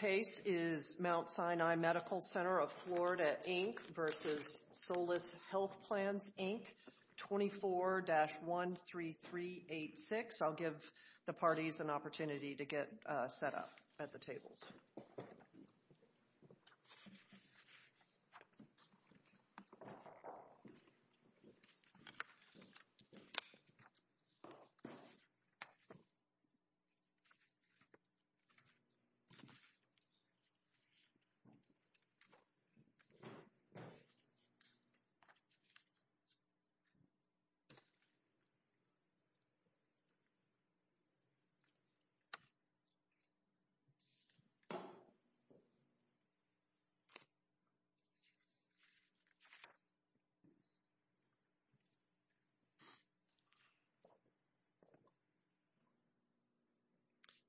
Case is Mount Sinai Medical Center of Florida, Inc. v. Solis Health Plans, Inc., 24-13386. I'll give the parties an opportunity to get set up at the tables.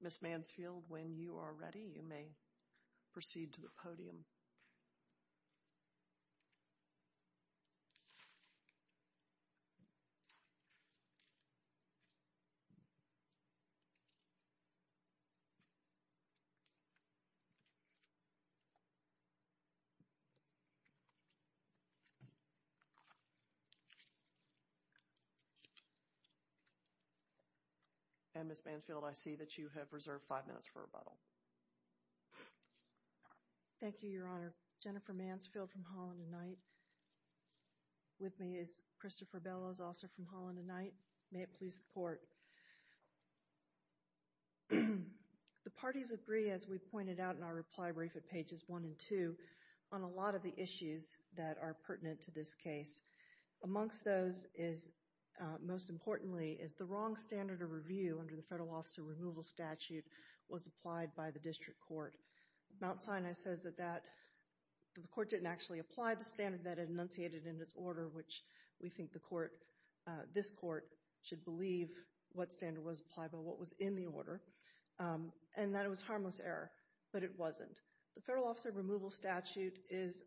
Ms. Mansfield, when you are ready, you may begin. Proceed to the podium. Ms. Mansfield, I see that you have reserved five minutes for rebuttal. Thank you, Your Honor. Jennifer Mansfield from Holland & Knight. With me is Christopher Bellows, also from Holland & Knight. May it please the Court. The parties agree, as we pointed out in our reply brief at pages one and two, on a lot of the issues that are pertinent to this case. Amongst those is, most importantly, is the wrong standard of review under the Mount Sinai says that the Court didn't actually apply the standard that it enunciated in its order, which we think this Court should believe what standard was applied by what was in the order, and that it was harmless error, but it wasn't. The federal officer removal statute is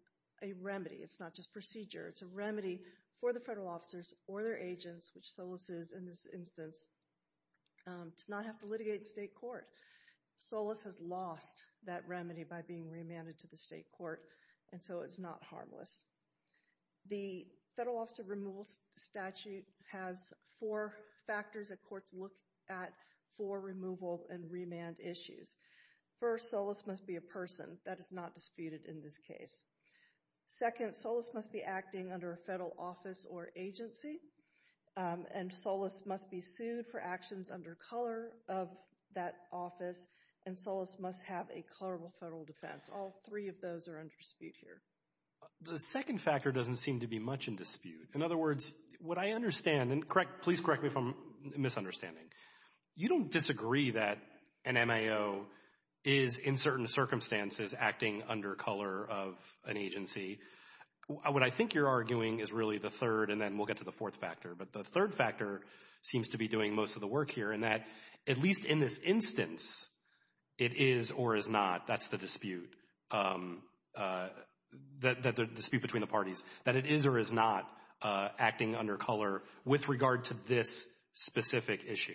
a remedy. It's not just procedure. It's a remedy for the federal officers or their agents, which Solis is in this instance, to not have to litigate in state court. Solis has lost that remedy by being remanded to the state court, and so it's not harmless. The federal officer removal statute has four factors that courts look at for removal and remand issues. First, Solis must be a person. That is not disputed in this case. Second, Solis must be acting under a federal office or agency, and Solis must be sued for actions under color of that office, and Solis must have a colorable federal defense. All three of those are under dispute here. The second factor doesn't seem to be much in dispute. In other words, what I understand, and please correct me if I'm misunderstanding, you don't disagree that an MAO is, in certain circumstances, acting under color of an agency. What I think you're arguing is really the third, and then we'll get to the fourth factor, but the third factor seems to be doing most of the work here in that, at least in this instance, it is or is not, that's the dispute between the parties, that it is or is not acting under color with regard to this specific issue.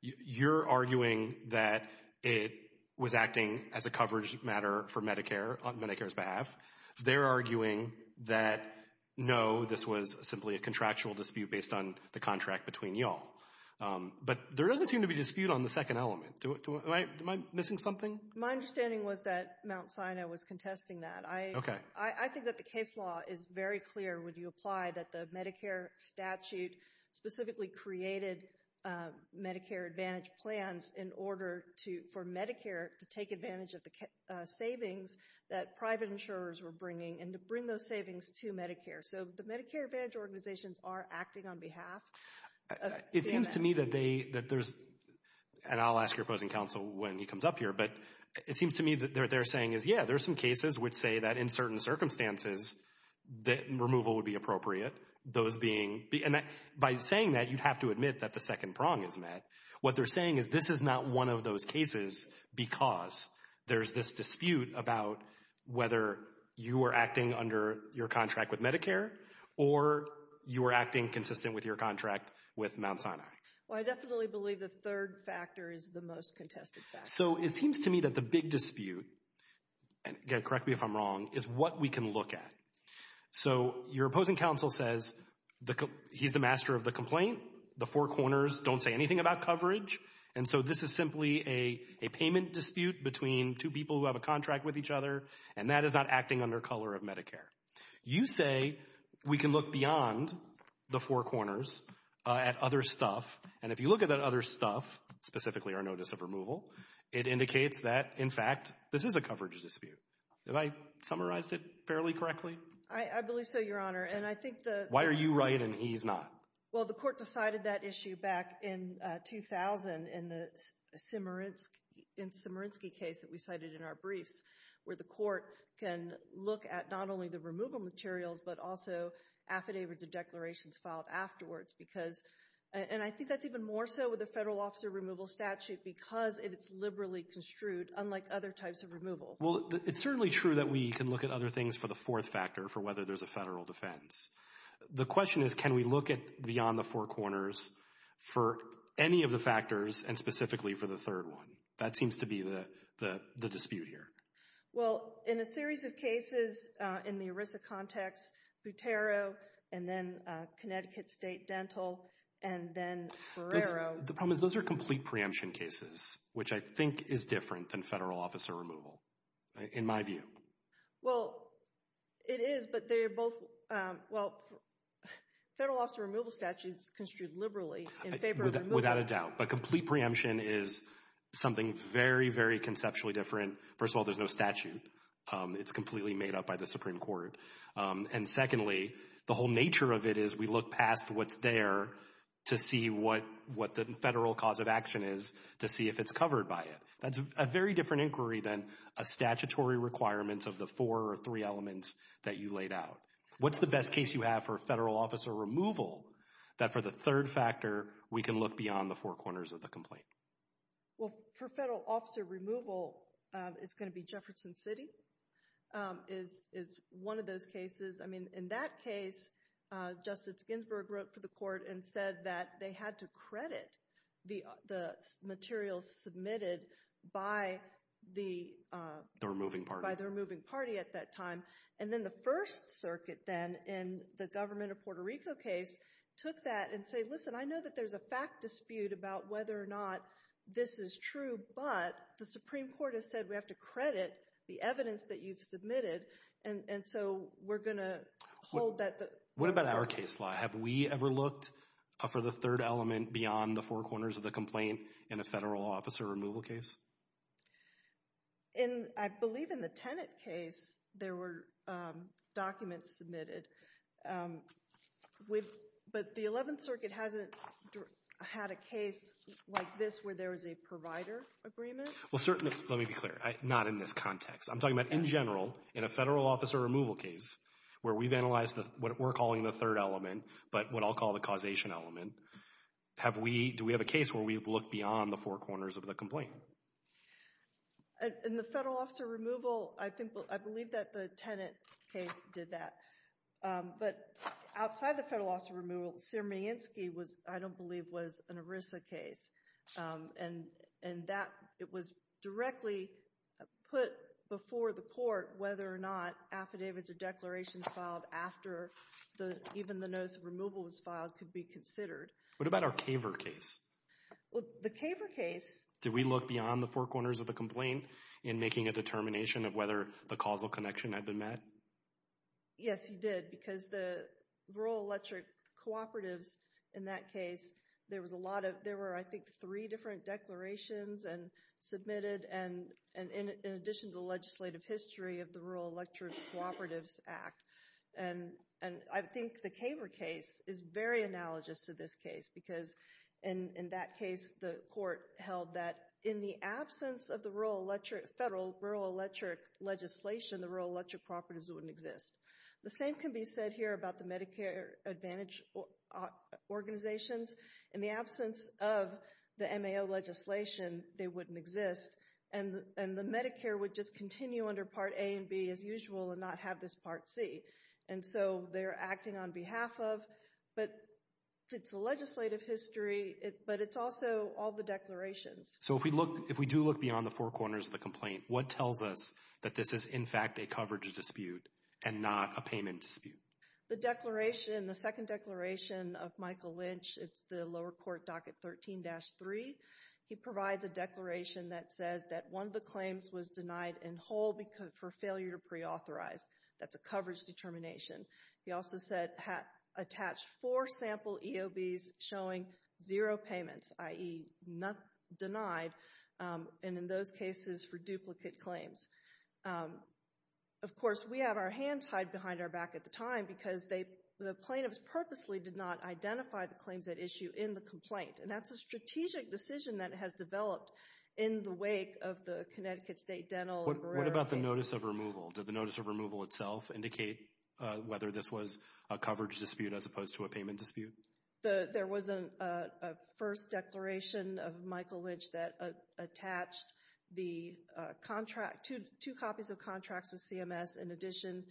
You're arguing that it was acting as a coverage matter for Medicare on Medicare's behalf. They're arguing that, no, this was simply a contractual dispute based on the contract between you all. But there doesn't seem to be dispute on the second element. Am I missing something? My understanding was that Mount Sinai was contesting that. Okay. I think that the case law is very clear when you apply that the Medicare statute specifically created Medicare Advantage plans in order for Medicare to take advantage of the savings that private insurers were bringing and to bring those savings to Medicare. So the Medicare Advantage organizations are acting on behalf. It seems to me that they, that there's, and I'll ask your opposing counsel when he comes up here, but it seems to me that what they're saying is, yeah, there's some cases which say that in certain circumstances that removal would be appropriate. Those being, and by saying that, you'd have to admit that the second prong is met. What they're saying is this is not one of those cases because there's this dispute about whether you are acting under your contract with Medicare or you are acting consistent with your contract with Mount Sinai. Well, I definitely believe the third factor is the most contested factor. So it seems to me that the big dispute, correct me if I'm wrong, is what we can look at. So your opposing counsel says he's the master of the complaint, the four corners don't say anything about coverage, and so this is simply a payment dispute between two people who have a contract with each other, and that is not acting under color of Medicare. You say we can look beyond the four corners at other stuff, and if you look at that other stuff, specifically our notice of removal, it indicates that, in fact, this is a coverage dispute. Have I summarized it fairly correctly? I believe so, Your Honor, and I think the— Why are you right and he's not? Well, the court decided that issue back in 2000 in the Simerinsky case that we cited in our briefs where the court can look at not only the removal materials but also affidavits or declarations filed afterwards because— and I think that's even more so with the federal officer removal statute because it's liberally construed unlike other types of removal. Well, it's certainly true that we can look at other things for the fourth factor for whether there's a federal defense. The question is can we look beyond the four corners for any of the factors and specifically for the third one? That seems to be the dispute here. Well, in a series of cases in the ERISA context, Butero and then Connecticut State Dental and then Ferrero— The problem is those are complete preemption cases, which I think is different than federal officer removal in my view. Well, it is, but they're both— Well, federal officer removal statute is construed liberally in favor of removal. Without a doubt. But complete preemption is something very, very conceptually different. First of all, there's no statute. It's completely made up by the Supreme Court. And secondly, the whole nature of it is we look past what's there to see what the federal cause of action is to see if it's covered by it. That's a very different inquiry than a statutory requirement of the four or three elements that you laid out. What's the best case you have for federal officer removal that for the third factor we can look beyond the four corners of the complaint? Well, for federal officer removal, it's going to be Jefferson City is one of those cases. I mean, in that case, Justice Ginsburg wrote for the court and said that they had to credit the materials submitted by the— The removing party. By the removing party at that time. And then the First Circuit then in the government of Puerto Rico case took that and said, listen, I know that there's a fact dispute about whether or not this is true, but the Supreme Court has said we have to credit the evidence that you've submitted, and so we're going to hold that— What about our case law? Have we ever looked for the third element beyond the four corners of the complaint in a federal officer removal case? I believe in the Tenet case, there were documents submitted. But the Eleventh Circuit hasn't had a case like this where there was a provider agreement? Well, certainly, let me be clear, not in this context. I'm talking about in general, in a federal officer removal case where we've analyzed what we're calling the third element, but what I'll call the causation element. Do we have a case where we've looked beyond the four corners of the complaint? In the federal officer removal, I believe that the Tenet case did that. But outside the federal officer removal, Siermienski, I don't believe, was an ERISA case. And it was directly put before the court whether or not affidavits or declarations filed after even the notice of removal was filed could be considered. What about our Kaver case? Well, the Kaver case— Did we look beyond the four corners of the complaint in making a determination of whether the causal connection had been met? Yes, you did, because the rural electric cooperatives in that case, there were, I think, three different declarations submitted. In addition to the legislative history of the Rural Electric Cooperatives Act. And I think the Kaver case is very analogous to this case, because in that case, the court held that in the absence of the federal rural electric legislation, the rural electric cooperatives wouldn't exist. The same can be said here about the Medicare Advantage organizations. In the absence of the MAO legislation, they wouldn't exist. And the Medicare would just continue under Part A and B as usual and not have this Part C. And so they're acting on behalf of, but it's a legislative history, but it's also all the declarations. So if we do look beyond the four corners of the complaint, what tells us that this is, in fact, a coverage dispute and not a payment dispute? The declaration, the second declaration of Michael Lynch, it's the lower court docket 13-3. He provides a declaration that says that one of the claims was denied in whole for failure to preauthorize. That's a coverage determination. He also said attach four sample EOBs showing zero payments, i.e. denied, and in those cases for duplicate claims. Of course, we have our hands tied behind our back at the time because the plaintiffs purposely did not identify the claims at issue in the complaint. And that's a strategic decision that has developed in the wake of the Connecticut State Dental and Barrera case. What about the notice of removal? Did the notice of removal itself indicate whether this was a coverage dispute as opposed to a payment dispute? There was a first declaration of Michael Lynch that attached two copies of contracts with CMS in addition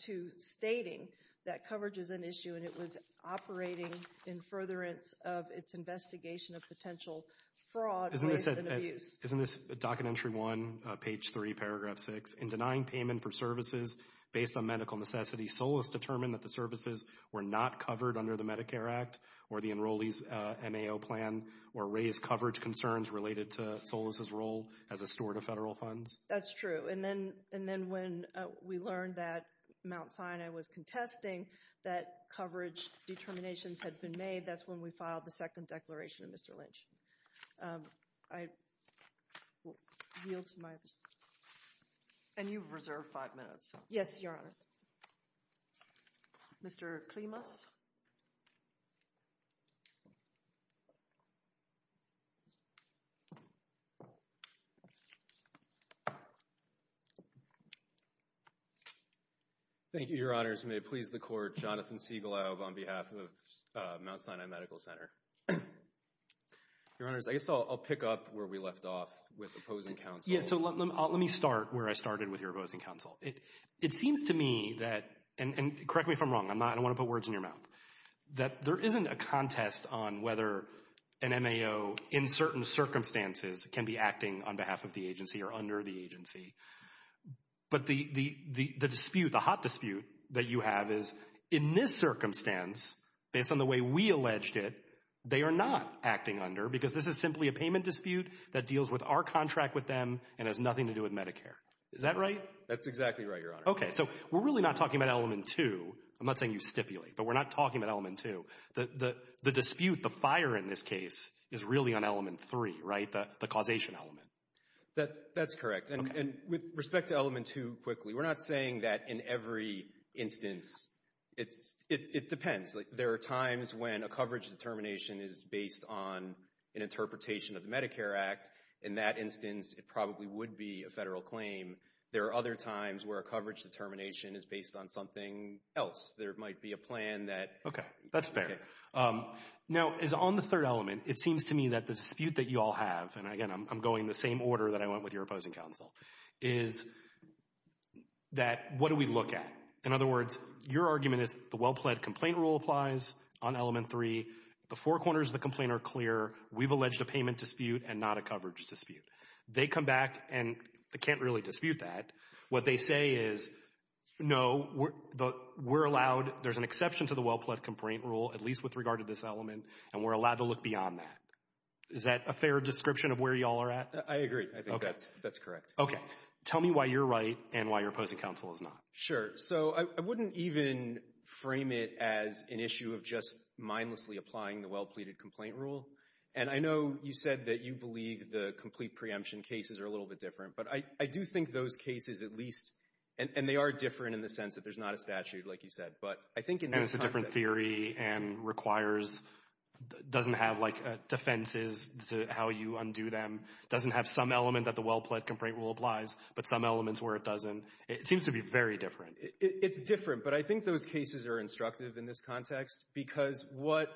to stating that coverage is an issue and it was operating in furtherance of its investigation of potential fraud, waste, and abuse. Isn't this Docket Entry 1, page 3, paragraph 6? In denying payment for services based on medical necessity, Solis determined that the services were not covered under the Medicare Act or the enrollee's MAO plan or raised coverage concerns related to Solis' role as a steward of federal funds? That's true. And then when we learned that Mount Sinai was contesting that coverage determinations had been made, that's when we filed the second declaration of Mr. Lynch. I yield to my... And you've reserved five minutes. Yes, Your Honor. Mr. Klimas. Thank you, Your Honors. May it please the Court, Jonathan Segalow on behalf of Mount Sinai Medical Center. Your Honors, I guess I'll pick up where we left off with opposing counsel. Yes, so let me start where I started with your opposing counsel. It seems to me that, and correct me if I'm wrong, I don't want to put words in your mouth, that there isn't a contest on whether an MAO in certain circumstances can be acting on behalf of the agency or under the agency. But the dispute, the hot dispute that you have is in this circumstance, based on the way we alleged it, they are not acting under because this is simply a payment dispute that deals with our contract with them and has nothing to do with Medicare. Is that right? That's exactly right, Your Honor. Okay, so we're really not talking about Element 2. I'm not saying you stipulate, but we're not talking about Element 2. The dispute, the fire in this case, is really on Element 3, right, the causation element. That's correct. And with respect to Element 2, quickly, we're not saying that in every instance. It depends. There are times when a coverage determination is based on an interpretation of the Medicare Act. In that instance, it probably would be a federal claim. There are other times where a coverage determination is based on something else. There might be a plan that… Okay, that's fair. Now, as on the third element, it seems to me that the dispute that you all have, and, again, I'm going the same order that I went with your opposing counsel, is that what do we look at? In other words, your argument is the well-plaid complaint rule applies on Element 3. The four corners of the complaint are clear. We've alleged a payment dispute and not a coverage dispute. They come back, and they can't really dispute that. What they say is, no, we're allowed. There's an exception to the well-plaid complaint rule, at least with regard to this element, and we're allowed to look beyond that. Is that a fair description of where you all are at? I agree. I think that's correct. Okay. Tell me why you're right and why your opposing counsel is not. Sure. So I wouldn't even frame it as an issue of just mindlessly applying the well-plaid complaint rule. And I know you said that you believe the complete preemption cases are a little bit different, but I do think those cases at least, and they are different in the sense that there's not a statute, like you said, but I think in this And it's a different theory and requires — doesn't have, like, defenses to how you undo them, doesn't have some element that the well-plaid complaint rule applies, but some elements where it doesn't. It seems to be very different. It's different, but I think those cases are instructive in this context because what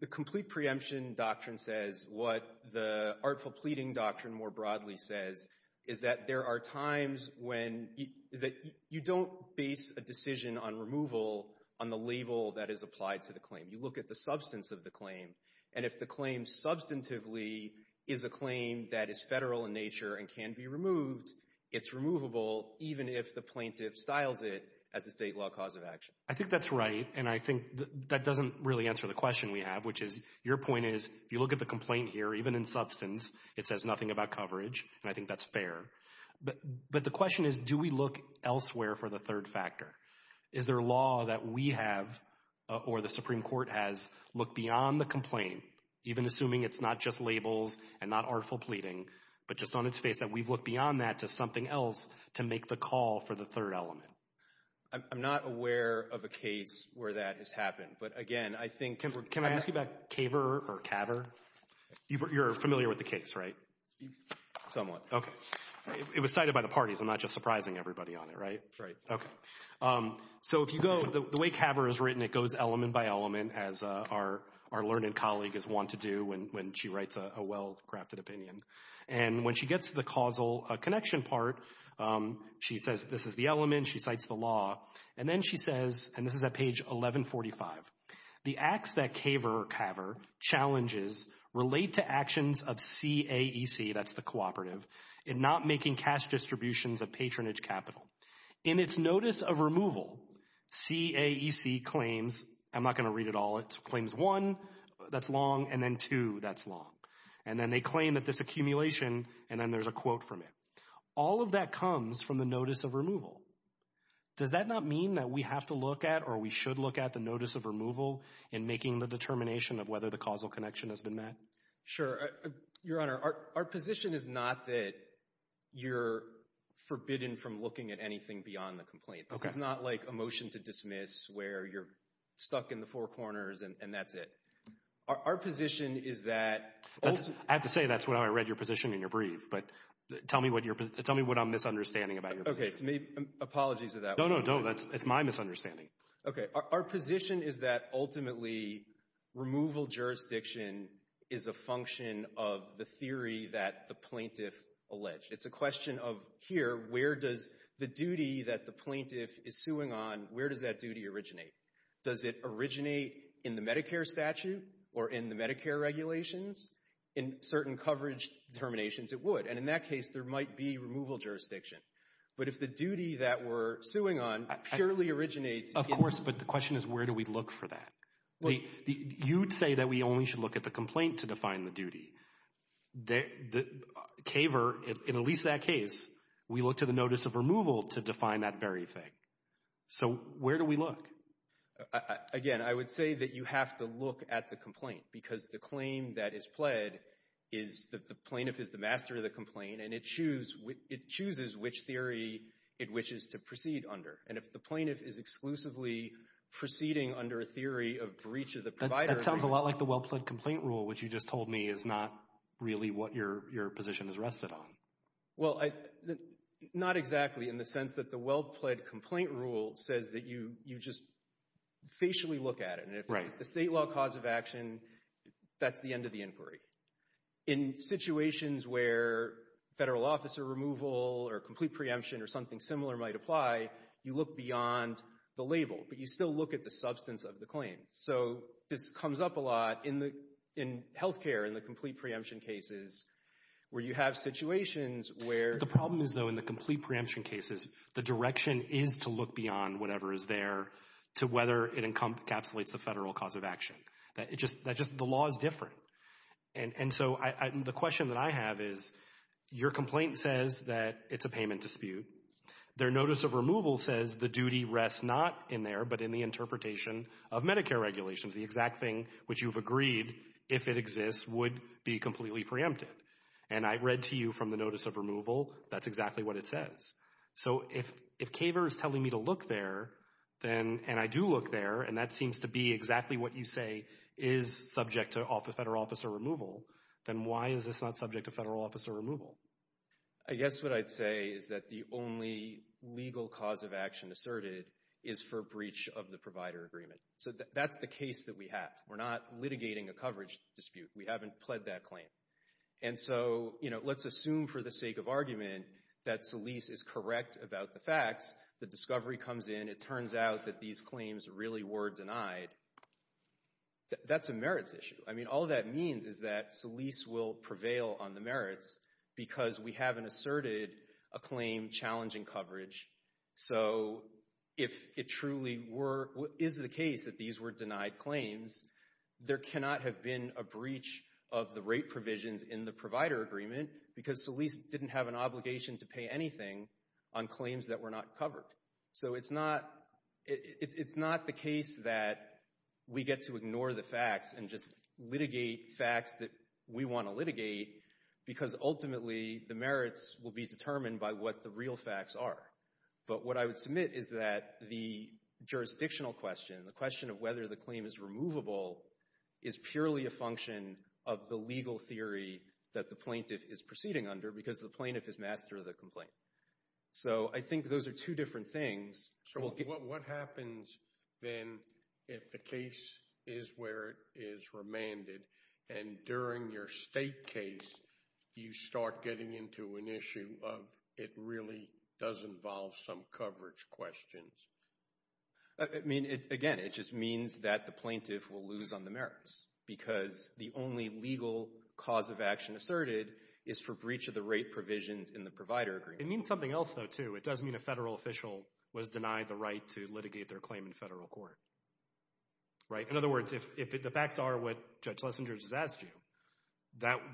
the complete preemption doctrine says, what the artful pleading doctrine more broadly says, is that there are times when — is that you don't base a decision on removal on the label that is applied to the claim. You look at the substance of the claim, and if the claim substantively is a claim that is federal in nature and can be removed, it's removable even if the plaintiff styles it as a state law cause of action. I think that's right, and I think that doesn't really answer the question we have, which is, your point is, if you look at the complaint here, even in substance, it says nothing about coverage, and I think that's fair. But the question is, do we look elsewhere for the third factor? Is there a law that we have or the Supreme Court has looked beyond the complaint, even assuming it's not just labels and not artful pleading, but just on its face that we've looked beyond that to something else to make the call for the third element? I'm not aware of a case where that has happened. But again, I think — Can I ask you about CAVR or CAVR? You're familiar with the case, right? Somewhat. Okay. It was cited by the parties. I'm not just surprising everybody on it, right? Right. Okay. So if you go — the way CAVR is written, it goes element by element, as our learned colleague is wont to do when she writes a well-crafted opinion. And when she gets to the causal connection part, she says, this is the element, she cites the law. And then she says, and this is at page 1145, the acts that CAVR challenges relate to actions of CAEC, that's the cooperative, in not making cash distributions of patronage capital. In its notice of removal, CAEC claims — I'm not going to read it all. It claims one, that's long, and then two, that's long. And then they claim that there's accumulation, and then there's a quote from it. All of that comes from the notice of removal. Does that not mean that we have to look at or we should look at the notice of removal in making the determination of whether the causal connection has been met? Your Honor, our position is not that you're forbidden from looking at anything beyond the complaint. This is not like a motion to dismiss where you're stuck in the four corners and that's it. Our position is that — I have to say, that's how I read your position in your brief. But tell me what I'm misunderstanding about your position. Okay, apologies for that. No, no, no, that's my misunderstanding. Okay, our position is that ultimately, removal jurisdiction is a function of the theory that the plaintiff alleged. It's a question of here, where does the duty that the plaintiff is suing on, where does that duty originate? Does it originate in the Medicare statute or in the Medicare regulations? In certain coverage determinations, it would. And in that case, there might be removal jurisdiction. But if the duty that we're suing on purely originates in — Of course, but the question is, where do we look for that? You'd say that we only should look at the complaint to define the duty. Kaver, in at least that case, we looked at the notice of removal to define that very thing. So where do we look? Again, I would say that you have to look at the complaint because the claim that is pled is that the plaintiff is the master of the complaint, and it chooses which theory it wishes to proceed under. And if the plaintiff is exclusively proceeding under a theory of breach of the provider — That sounds a lot like the well-pled complaint rule, which you just told me is not really what your position is rested on. Well, not exactly in the sense that the well-pled complaint rule says that you just facially look at it. Right. If it's the state law cause of action, that's the end of the inquiry. In situations where federal officer removal or complete preemption or something similar might apply, you look beyond the label, but you still look at the substance of the claim. So this comes up a lot in healthcare, in the complete preemption cases, where you have situations where — The problem is, though, in the complete preemption cases, the direction is to look beyond whatever is there to whether it encapsulates the federal cause of action. The law is different. And so the question that I have is, your complaint says that it's a payment dispute. Their notice of removal says the duty rests not in there, but in the interpretation of Medicare regulations. The exact thing which you've agreed, if it exists, would be completely preempted. And I read to you from the notice of removal, that's exactly what it says. So if KAVER is telling me to look there, and I do look there, and that seems to be exactly what you say is subject to federal officer removal, then why is this not subject to federal officer removal? I guess what I'd say is that the only legal cause of action asserted is for breach of the provider agreement. So that's the case that we have. We're not litigating a coverage dispute. We haven't pled that claim. And so let's assume for the sake of argument that Solis is correct about the facts. The discovery comes in. It turns out that these claims really were denied. That's a merits issue. I mean, all that means is that Solis will prevail on the merits because we haven't asserted a claim challenging coverage. So if it truly is the case that these were denied claims, there cannot have been a breach of the rate provisions in the provider agreement because Solis didn't have an obligation to pay anything on claims that were not covered. So it's not the case that we get to ignore the facts and just litigate facts that we want to litigate because ultimately the merits will be determined by what the real facts are. But what I would submit is that the jurisdictional question, the question of whether the claim is removable, is purely a function of the legal theory that the plaintiff is proceeding under because the plaintiff is master of the complaint. So I think those are two different things. So what happens then if the case is where it is remanded and during your state case you start getting into an issue of it really does involve some coverage questions? I mean, again, it just means that the plaintiff will lose on the merits because the only legal cause of action asserted is for breach of the rate provisions in the provider agreement. It means something else, though, too. It does mean a federal official was denied the right to litigate their claim in federal court. In other words, if the facts are what Judge Lessinger has asked you,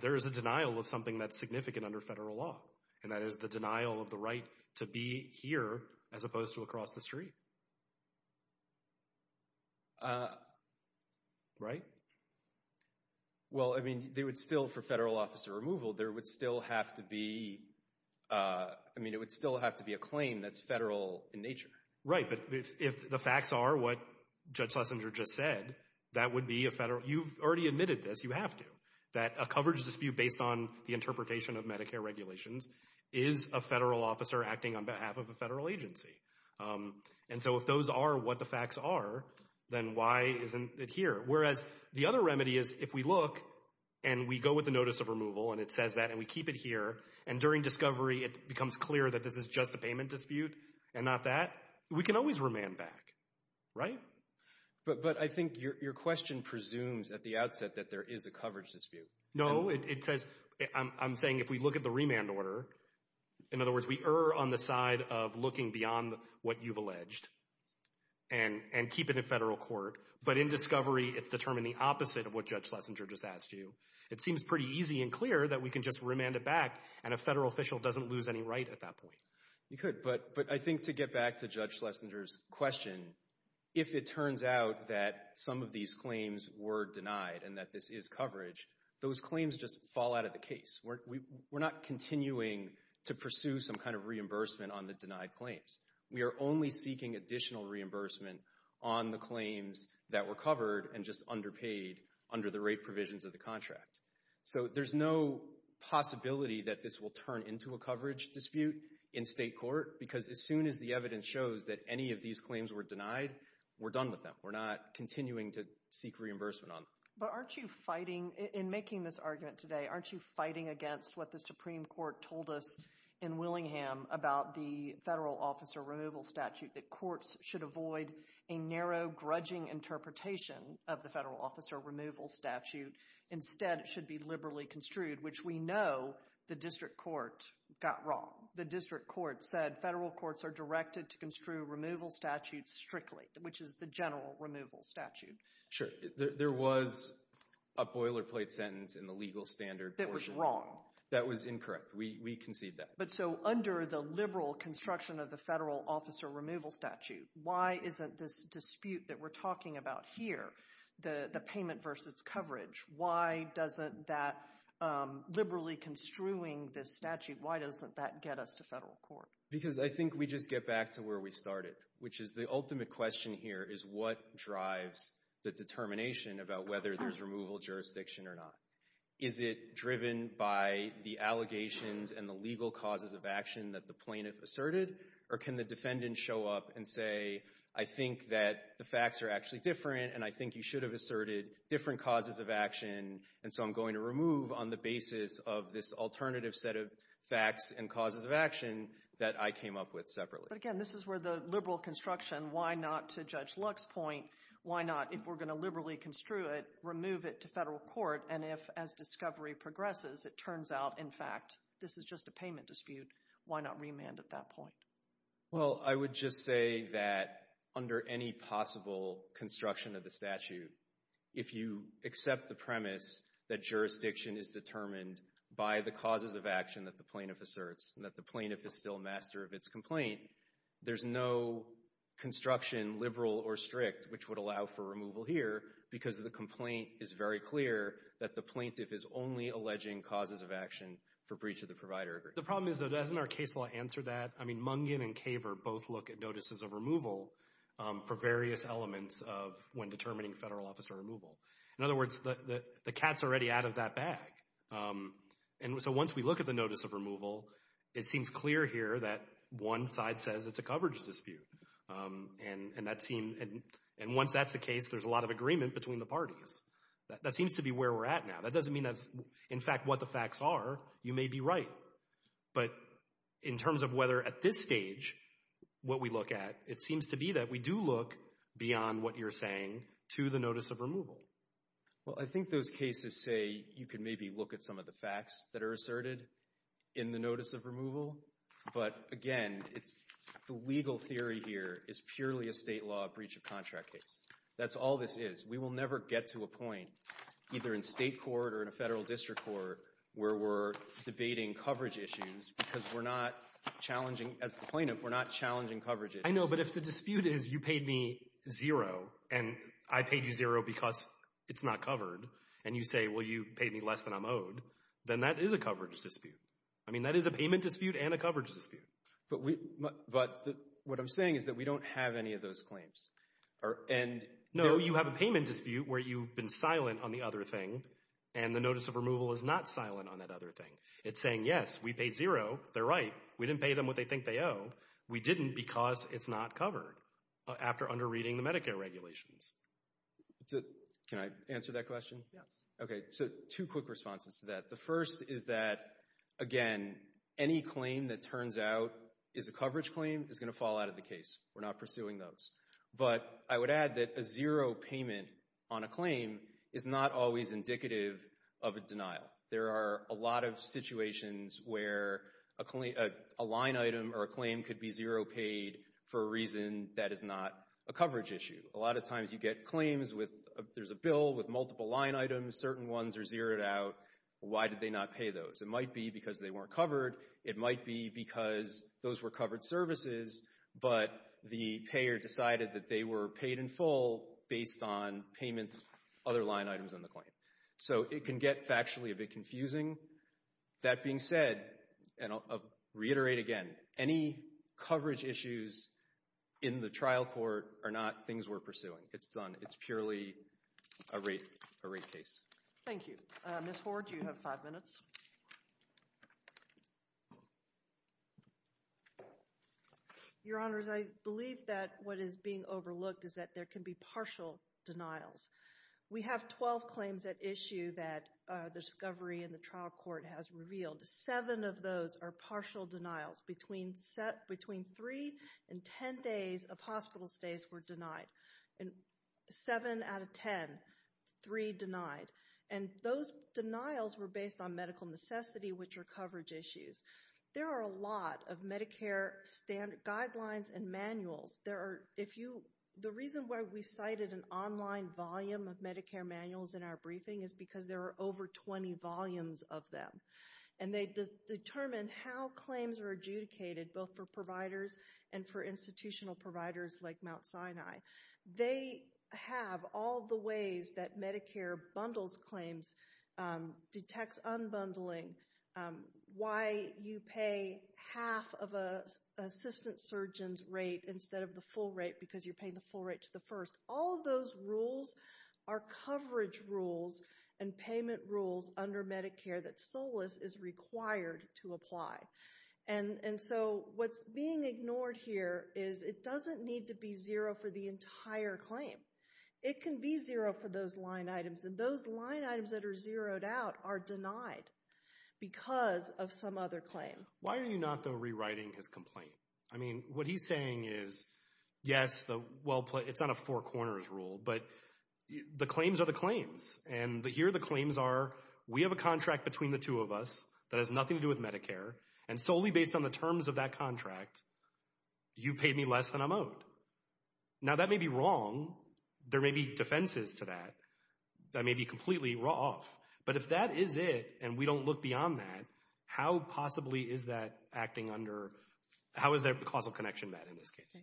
there is a denial of something that's significant under federal law, and that is the denial of the right to be here as opposed to across the street. Right? Well, I mean, they would still, for federal officer removal, there would still have to be, I mean, it would still have to be a claim that's federal in nature. Right, but if the facts are what Judge Lessinger just said, that would be a federal, you've already admitted this, you have to, that a coverage dispute based on the interpretation of Medicare regulations is a federal officer acting on behalf of a federal agency. And so if those are what the facts are, then why isn't it here? Whereas the other remedy is if we look and we go with the notice of removal and it says that and we keep it here and during discovery it becomes clear that this is just a payment dispute and not that, we can always remand back. Right? But I think your question presumes at the outset that there is a coverage dispute. No, because I'm saying if we look at the remand order, in other words, we err on the side of looking beyond what you've alleged and keep it in federal court, but in discovery it's determined the opposite of what Judge Lessinger just asked you. It seems pretty easy and clear that we can just remand it back and a federal official doesn't lose any right at that point. You could, but I think to get back to Judge Lessinger's question, if it turns out that some of these claims were denied and that this is coverage, those claims just fall out of the case. We're not continuing to pursue some kind of reimbursement on the denied claims. We are only seeking additional reimbursement on the claims that were covered and just underpaid under the rate provisions of the contract. So there's no possibility that this will turn into a coverage dispute in state court because as soon as the evidence shows that any of these claims were denied, we're done with them. We're not continuing to seek reimbursement on them. But aren't you fighting, in making this argument today, aren't you fighting against what the Supreme Court told us in Willingham about the federal officer removal statute, that courts should avoid a narrow, grudging interpretation of the federal officer removal statute instead it should be liberally construed, which we know the district court got wrong. The district court said federal courts are directed to construe removal statutes strictly, which is the general removal statute. Sure. There was a boilerplate sentence in the legal standard portion. That was wrong. That was incorrect. We concede that. But so under the liberal construction of the federal officer removal statute, why isn't this dispute that we're talking about here, the payment versus coverage, why doesn't that liberally construing this statute, why doesn't that get us to federal court? Because I think we just get back to where we started, which is the ultimate question here is what drives the determination about whether there's removal jurisdiction or not. Is it driven by the allegations and the legal causes of action that the plaintiff asserted? Or can the defendant show up and say, I think that the facts are actually different, and I think you should have asserted different causes of action, and so I'm going to remove on the basis of this alternative set of facts and causes of action that I came up with separately. But again, this is where the liberal construction, why not to Judge Luck's point, why not if we're going to liberally construe it, remove it to federal court, and if as discovery progresses it turns out, in fact, this is just a payment dispute, why not remand at that point? Well, I would just say that under any possible construction of the statute, if you accept the premise that jurisdiction is determined by the causes of action that the plaintiff asserts and that the plaintiff is still master of its complaint, there's no construction, liberal or strict, which would allow for removal here because the complaint is very clear that the plaintiff is only alleging causes of action for breach of the provider agreement. The problem is, though, doesn't our case law answer that? I mean, Mungin and Kaver both look at notices of removal for various elements of when determining federal officer removal. In other words, the cat's already out of that bag. And so once we look at the notice of removal, it seems clear here that one side says it's a coverage dispute, and once that's the case, there's a lot of agreement between the parties. That seems to be where we're at now. That doesn't mean that's, in fact, what the facts are. You may be right. But in terms of whether at this stage what we look at, it seems to be that we do look beyond what you're saying to the notice of removal. Well, I think those cases say you can maybe look at some of the facts that are asserted in the notice of removal. But, again, the legal theory here is purely a state law breach of contract case. That's all this is. We will never get to a point, either in state court or in a federal district court, where we're debating coverage issues because we're not challenging, as the plaintiff, we're not challenging coverage issues. I know, but if the dispute is you paid me zero and I paid you zero because it's not covered, and you say, well, you paid me less than I'm owed, then that is a coverage dispute. I mean, that is a payment dispute and a coverage dispute. But what I'm saying is that we don't have any of those claims. No, you have a payment dispute where you've been silent on the other thing and the notice of removal is not silent on that other thing. It's saying, yes, we paid zero, they're right, we didn't pay them what they think they owe, we didn't because it's not covered after under reading the Medicare regulations. Can I answer that question? Yes. Okay, so two quick responses to that. The first is that, again, any claim that turns out is a coverage claim is going to fall out of the case. We're not pursuing those. But I would add that a zero payment on a claim is not always indicative of a denial. There are a lot of situations where a line item or a claim could be zero paid for a reason that is not a coverage issue. A lot of times you get claims with there's a bill with multiple line items, certain ones are zeroed out, why did they not pay those? It might be because they weren't covered. It might be because those were covered services, but the payer decided that they were paid in full based on payments, other line items on the claim. So it can get factually a bit confusing. That being said, and I'll reiterate again, any coverage issues in the trial court are not things we're pursuing. It's purely a rate case. Thank you. Ms. Ford, you have five minutes. Your Honors, I believe that what is being overlooked is that there can be partial denials. We have 12 claims at issue that the discovery in the trial court has revealed. Seven of those are partial denials. Between three and ten days of hospital stays were denied. Seven out of ten, three denied. And those denials were based on medical necessity, which are coverage issues. There are a lot of Medicare guidelines and manuals. The reason why we cited an online volume of Medicare manuals in our briefing is because there are over 20 volumes of them. And they determine how claims are adjudicated, both for providers and for institutional providers like Mount Sinai. They have all the ways that Medicare bundles claims, detects unbundling, why you pay half of an assistant surgeon's rate instead of the full rate because you're paying the full rate to the first. All of those rules are coverage rules and payment rules under Medicare that SOLAS is required to apply. And so what's being ignored here is it doesn't need to be zero for the entire claim. It can be zero for those line items. And those line items that are zeroed out are denied because of some other claim. Why are you not, though, rewriting his complaint? I mean, what he's saying is, yes, it's not a four corners rule, but the claims are the claims. And here the claims are, we have a contract between the two of us that has nothing to do with Medicare. And solely based on the terms of that contract, you paid me less than I'm owed. Now that may be wrong. There may be defenses to that that may be completely off. But if that is it and we don't look beyond that, how possibly is that acting under, how is that causal connection met in this case?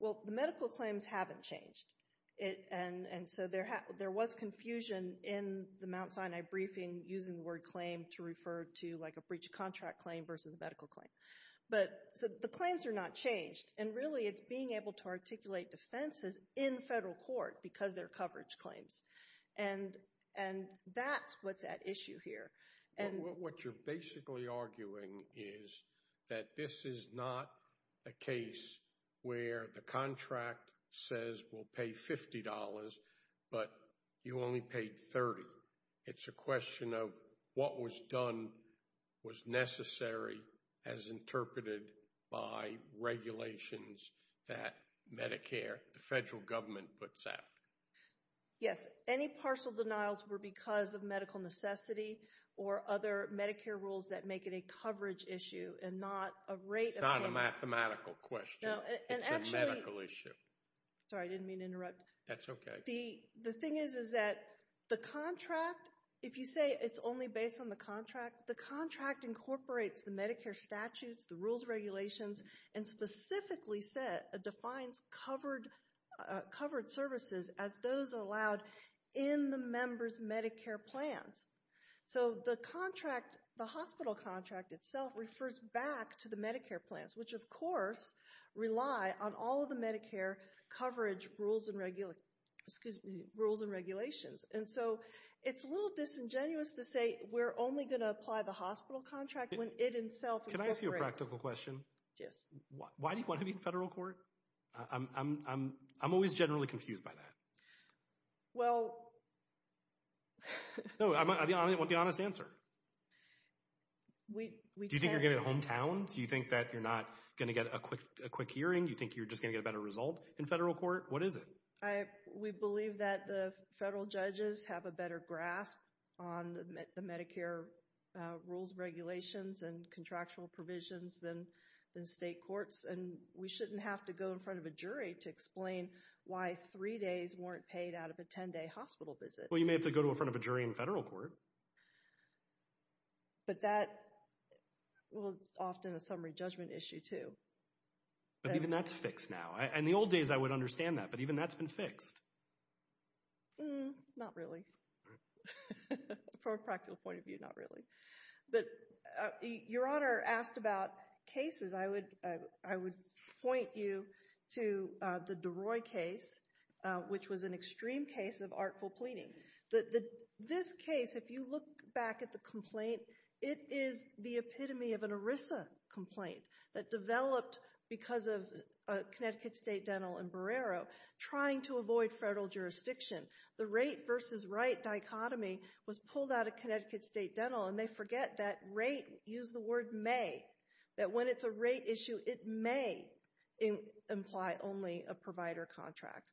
Well, the medical claims haven't changed. And so there was confusion in the Mount Sinai briefing using the word claim to refer to a breach of contract claim versus a medical claim. But the claims are not changed. And really it's being able to articulate defenses in federal court because they're coverage claims. And that's what's at issue here. What you're basically arguing is that this is not a case where the contract says we'll pay $50 but you only paid $30. It's a question of what was done was necessary as interpreted by regulations that Medicare, the federal government, puts out. Yes. Any partial denials were because of medical necessity or other Medicare rules that make it a coverage issue and not a rate of payment. It's not a mathematical question. It's a medical issue. Sorry, I didn't mean to interrupt. That's okay. But the thing is that the contract, if you say it's only based on the contract, the contract incorporates the Medicare statutes, the rules, regulations, and specifically defines covered services as those allowed in the member's Medicare plans. So the contract, the hospital contract itself, refers back to the Medicare plans, which, of course, rely on all of the Medicare coverage rules and regulations. And so it's a little disingenuous to say we're only going to apply the hospital contract when it itself incorporates. Can I ask you a practical question? Yes. Why do you want to be in federal court? I'm always generally confused by that. Well— No, I want the honest answer. We— You think you're not going to get a quick hearing? You think you're just going to get a better result in federal court? What is it? We believe that the federal judges have a better grasp on the Medicare rules, regulations, and contractual provisions than state courts, and we shouldn't have to go in front of a jury to explain why three days weren't paid out of a 10-day hospital visit. Well, you may have to go to in front of a jury in federal court. But that was often a summary judgment issue, too. But even that's fixed now. In the old days, I would understand that, but even that's been fixed. Not really. From a practical point of view, not really. But Your Honor asked about cases. I would point you to the DeRoy case, which was an extreme case of artful pleading. This case, if you look back at the complaint, it is the epitome of an ERISA complaint that developed because of Connecticut State Dental and Barrero trying to avoid federal jurisdiction. The right versus rate dichotomy was pulled out of Connecticut State Dental, and they forget that rate—use the word may—that when it's a rate issue, it may imply only a provider contract.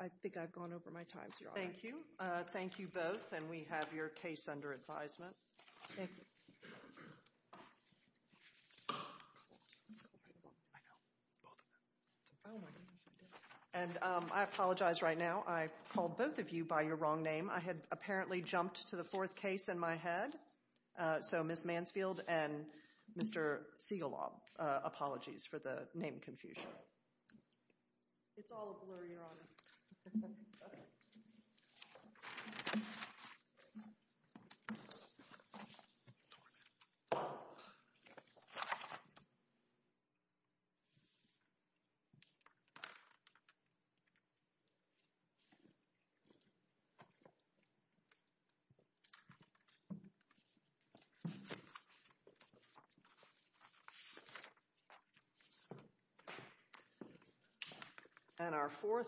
I think I've gone over my times, Your Honor. Thank you. Thank you both, and we have your case under advisement. Thank you. And I apologize right now. I called both of you by your wrong name. I had apparently jumped to the fourth case in my head. So, Ms. Mansfield and Mr. Siegelob, apologies for the name confusion. It's all a blur, Your Honor. Okay. And our fourth—